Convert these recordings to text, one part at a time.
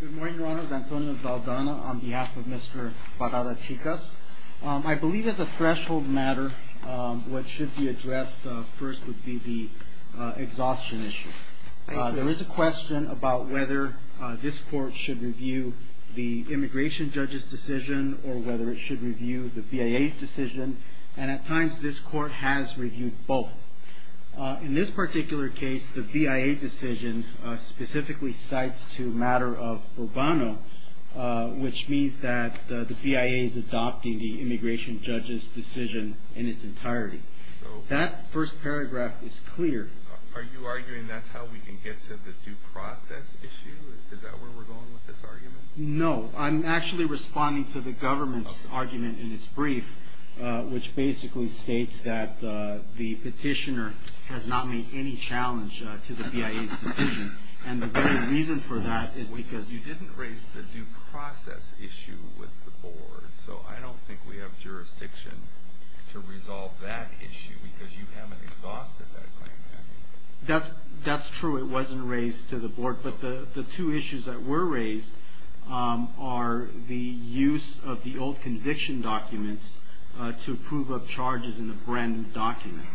Good morning, Your Honors. Antonio Zaldana on behalf of Mr. Parada-Chicas. I believe as a threshold matter, what should be addressed first would be the exhaustion issue. There is a question about whether this court should review the immigration judge's decision or whether it should review the BIA decision, and at times this court has reviewed both. In this particular case, the BIA decision specifically cites to matter of Urbano, which means that the BIA is adopting the immigration judge's decision in its entirety. That first paragraph is clear. Are you arguing that's how we can get to the due process issue? Is that where we're going with this argument? No, I'm actually responding to the government's argument in its brief, which basically states that the petitioner has not made any challenge to the BIA's decision, and the very reason for that is because... Well, you didn't raise the due process issue with the board, so I don't think we have jurisdiction to resolve that issue because you haven't exhausted that claim yet. That's true. It wasn't raised to the board, but the two issues that were raised are the use of the old conviction documents to approve of charges in a brand new document.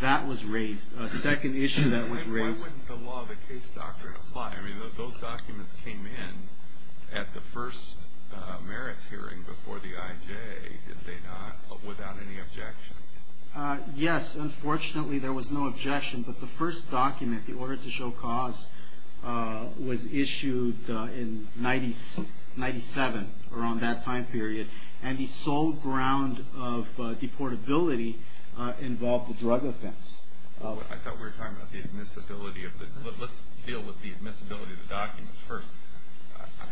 That was raised. A second issue that was raised... And why wouldn't the law of the case doctrine apply? I mean, those documents came in at the first merits hearing before the IJ, did they not, without any objection? Yes, unfortunately there was no objection, but the first document, the order to show cause, was issued in 1997, around that time period, and the sole ground of deportability involved the drug offense. I thought we were talking about the admissibility of the... Let's deal with the admissibility of the documents first.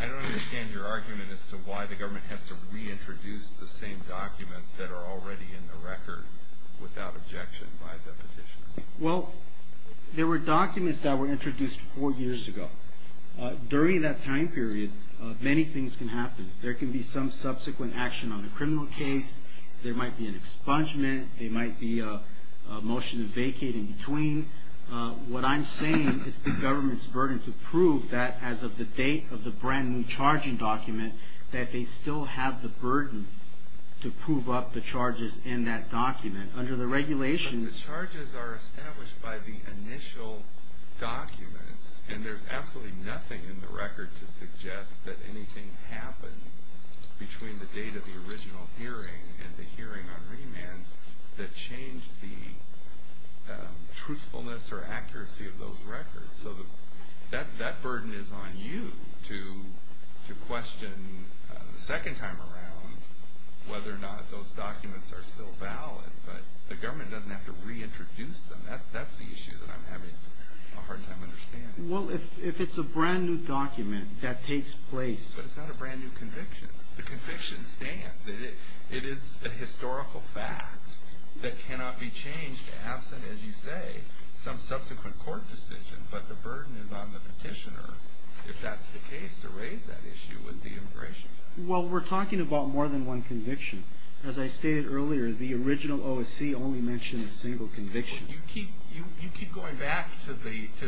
I don't understand your argument as to why the government has to reintroduce the same documents that are already in the record without objection by the petitioner. Well, there were documents that were introduced four years ago. During that time period, many things can happen. There can be some subsequent action on a criminal case, there might be an expungement, there might be a motion to vacate in between. What I'm saying is the government's burden to prove that as of the date of the brand new charging document, that they still have the burden to prove up the charges in that document. Under the regulations... But the charges are established by the initial documents, and there's absolutely nothing in the record to suggest that anything happened between the date of the original hearing and the hearing on remands that changed the truthfulness or accuracy of those records. So that burden is on you to question the second time around whether or not those documents are still valid. But the government doesn't have to reintroduce them. That's the issue that I'm having a hard time understanding. Well, if it's a brand new document that takes place... But it's not a brand new conviction. The conviction stands. It is a historical fact that cannot be changed absent, as you say, some subsequent court decision. But the burden is on the petitioner, if that's the case, to raise that issue with the immigration judge. Well, we're talking about more than one conviction. As I stated earlier, the original OSC only mentioned a single conviction. You keep going back to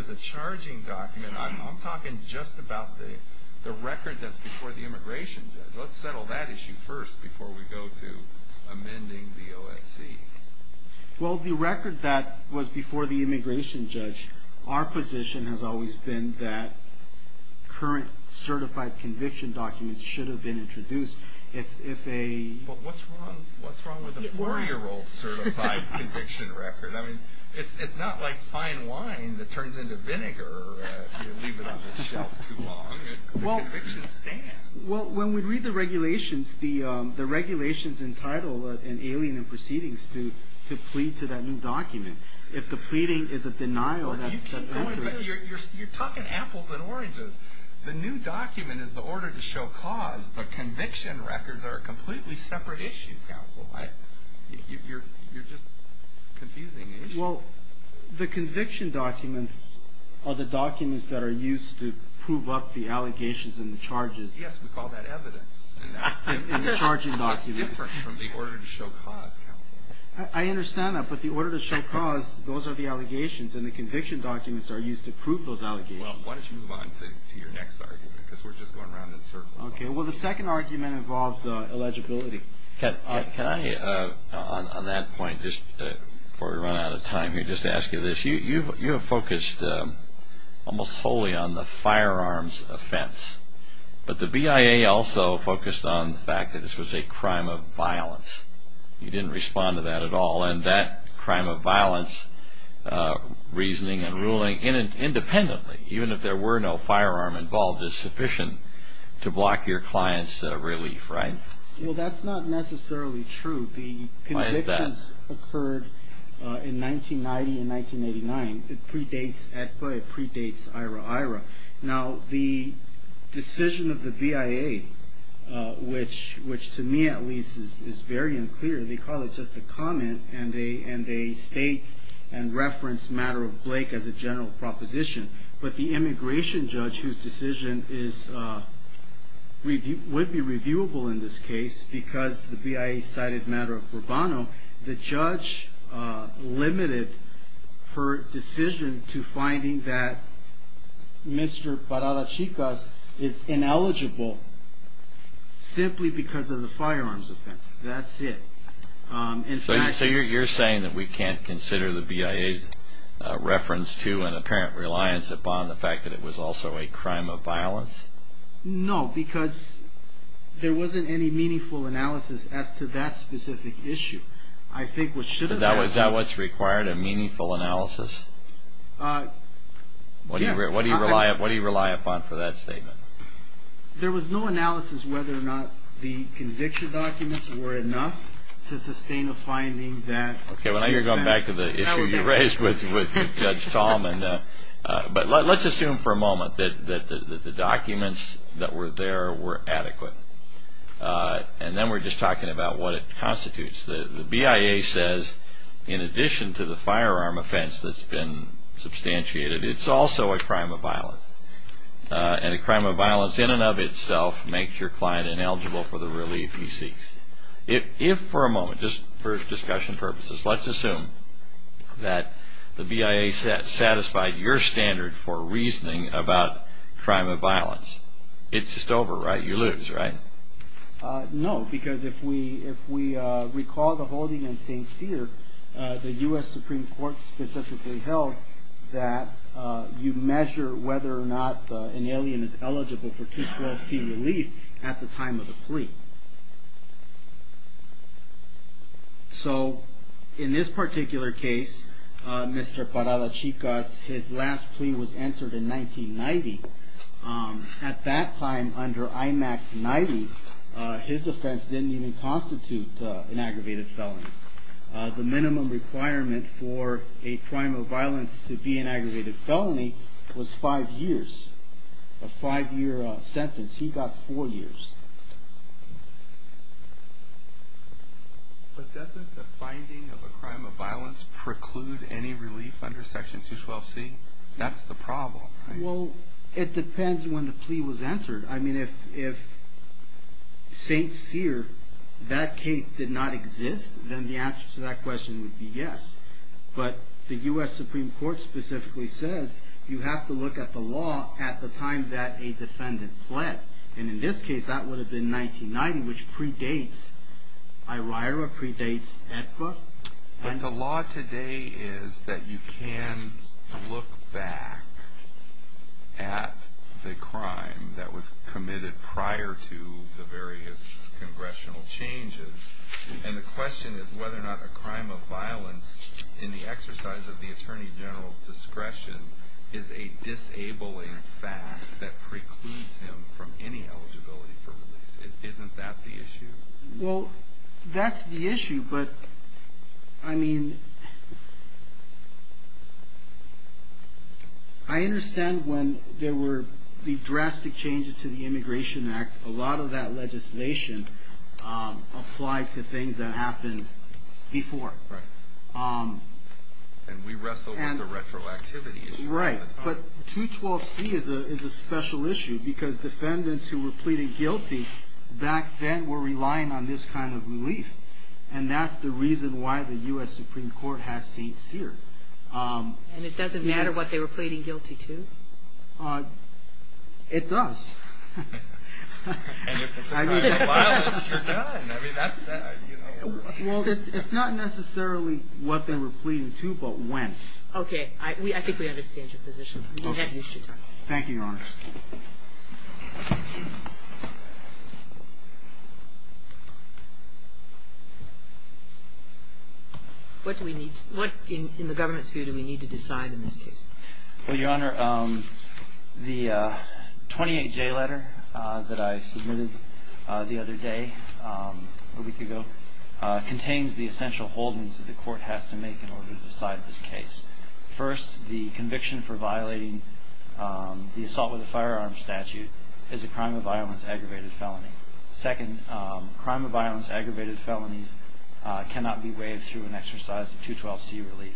the charging document. I'm talking just about the record that's before the immigration judge. Let's settle that issue first before we go to amending the OSC. Well, the record that was before the immigration judge, our position has always been that current certified conviction documents should have been introduced if a... But what's wrong with a four-year-old certified conviction record? I mean, it's not like fine wine that turns into vinegar if you leave it on the shelf too long. The convictions stand. Well, when we read the regulations, the regulations entitle an alien in proceedings to plead to that new document. If the pleading is a denial, that's accurate. You're talking apples and oranges. The new document is the order to show cause. The conviction records are a completely separate issue, counsel. You're just confusing me. Well, the conviction documents are the documents that are used to prove up the allegations and the charges. Yes, we call that evidence. In the charging document. That's different from the order to show cause, counsel. I understand that, but the order to show cause, those are the allegations, and the conviction documents are used to prove those allegations. Well, why don't you move on to your next argument, because we're just going around in circles. Okay. Well, the second argument involves eligibility. Can I, on that point, just before we run out of time here, just ask you this. You have focused almost wholly on the firearms offense, but the BIA also focused on the fact that this was a crime of violence. You didn't respond to that at all, and that crime of violence, reasoning and ruling independently, even if there were no firearm involved, is sufficient to block your client's relief, right? Well, that's not necessarily true. Why is that? The convictions occurred in 1990 and 1989. It predates AEDPA. It predates IRA-IRA. Now, the decision of the BIA, which to me, at least, is very unclear. They call it just a comment, and they state and reference Matter of Blake as a general proposition. But the immigration judge, whose decision would be reviewable in this case because the BIA cited Matter of Rubano, the judge limited her decision to finding that Mr. Parada-Chicas is ineligible simply because of the firearms offense. That's it. So you're saying that we can't consider the BIA's reference to an apparent reliance upon the fact that it was also a crime of violence? No, because there wasn't any meaningful analysis as to that specific issue. I think what should have been- Is that what's required, a meaningful analysis? Yes. What do you rely upon for that statement? There was no analysis whether or not the conviction documents were enough to sustain a finding that- Okay, well, now you're going back to the issue you raised with Judge Tallman. But let's assume for a moment that the documents that were there were adequate. And then we're just talking about what it constitutes. The BIA says, in addition to the firearm offense that's been substantiated, it's also a crime of violence. And a crime of violence in and of itself makes your client ineligible for the relief he seeks. If for a moment, just for discussion purposes, let's assume that the BIA satisfied your standard for reasoning about crime of violence, it's just over, right? You lose, right? No, because if we recall the holding in St. Cyr, the U.S. Supreme Court specifically held that you measure whether or not an alien is eligible for 212c relief at the time of the plea. So, in this particular case, Mr. Parada-Chicas, his last plea was entered in 1990. At that time, under IMAC 90, his offense didn't even constitute an aggravated felony. The minimum requirement for a crime of violence to be an aggravated felony was five years. A five-year sentence. He got four years. But doesn't the finding of a crime of violence preclude any relief under Section 212c? That's the problem, right? Well, it depends when the plea was answered. I mean, if St. Cyr, that case did not exist, then the answer to that question would be yes. But the U.S. Supreme Court specifically says you have to look at the law at the time that a defendant pled. And in this case, that would have been 1990, which predates IRIRA, predates AEDPA. But the law today is that you can look back at the crime that was committed prior to the various congressional changes. And the question is whether or not a crime of violence, in the exercise of the Attorney General's discretion, is a disabling fact that precludes him from any eligibility for relief. Isn't that the issue? Well, that's the issue. But, I mean, I understand when there were the drastic changes to the Immigration Act, a lot of that legislation applied to things that happened before. Right. And we wrestled with the retroactivity issue. Right. But 212C is a special issue because defendants who were pleading guilty back then were relying on this kind of relief. And that's the reason why the U.S. Supreme Court has St. Cyr. And it doesn't matter what they were pleading guilty to? It does. And if it's a crime of violence, you're done. Well, it's not necessarily what they were pleading to, but when. Okay. I think we understand your position. We have used your time. Thank you, Your Honor. What do we need to – what, in the government's view, do we need to decide in this case? Well, Your Honor, the 28J letter that I submitted the other day, a week ago, contains the essential holdings that the Court has to make in order to decide this case. First, the conviction for violating the assault with a firearm statute is a crime of violence, aggravated felony. Second, crime of violence, aggravated felonies cannot be waived through an exercise of 212C relief.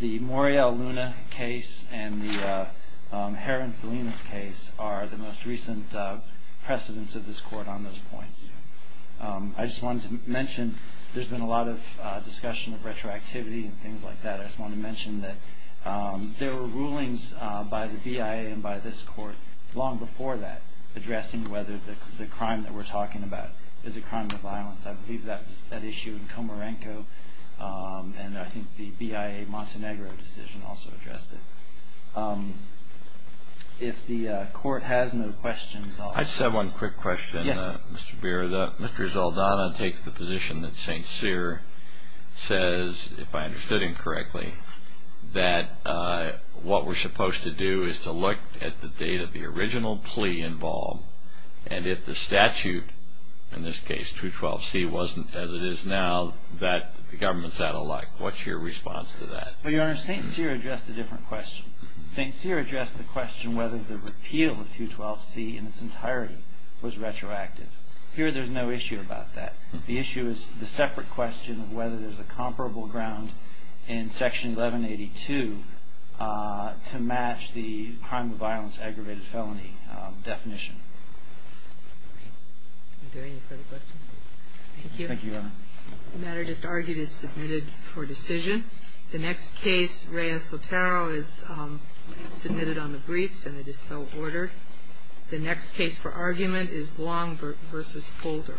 The Morial Luna case and the Herron Salinas case are the most recent precedents of this Court on those points. I just wanted to mention there's been a lot of discussion of retroactivity and things like that. I just wanted to mention that there were rulings by the BIA and by this Court long before that, addressing whether the crime that we're talking about is a crime of violence. I believe that issue in Comarenco, and I think the BIA Montenegro decision also addressed it. If the Court has no questions, I'll – I just have one quick question. Yes. Mr. Zaldana takes the position that St. Cyr says, if I understood him correctly, that what we're supposed to do is to look at the date of the original plea involved, and if the statute, in this case 212C, wasn't as it is now, that the government's out of luck. What's your response to that? Well, Your Honor, St. Cyr addressed a different question. St. Cyr addressed the question whether the repeal of 212C in its entirety was retroactive. Here there's no issue about that. The issue is the separate question of whether there's a comparable ground in Section 1182 to match the crime of violence aggravated felony definition. Are there any further questions? Thank you. Thank you, Your Honor. The matter just argued is submitted for decision. The next case, Reyes-Otero, is submitted on the briefs, and it is so ordered. The next case for argument is Long v. Polder. Thank you.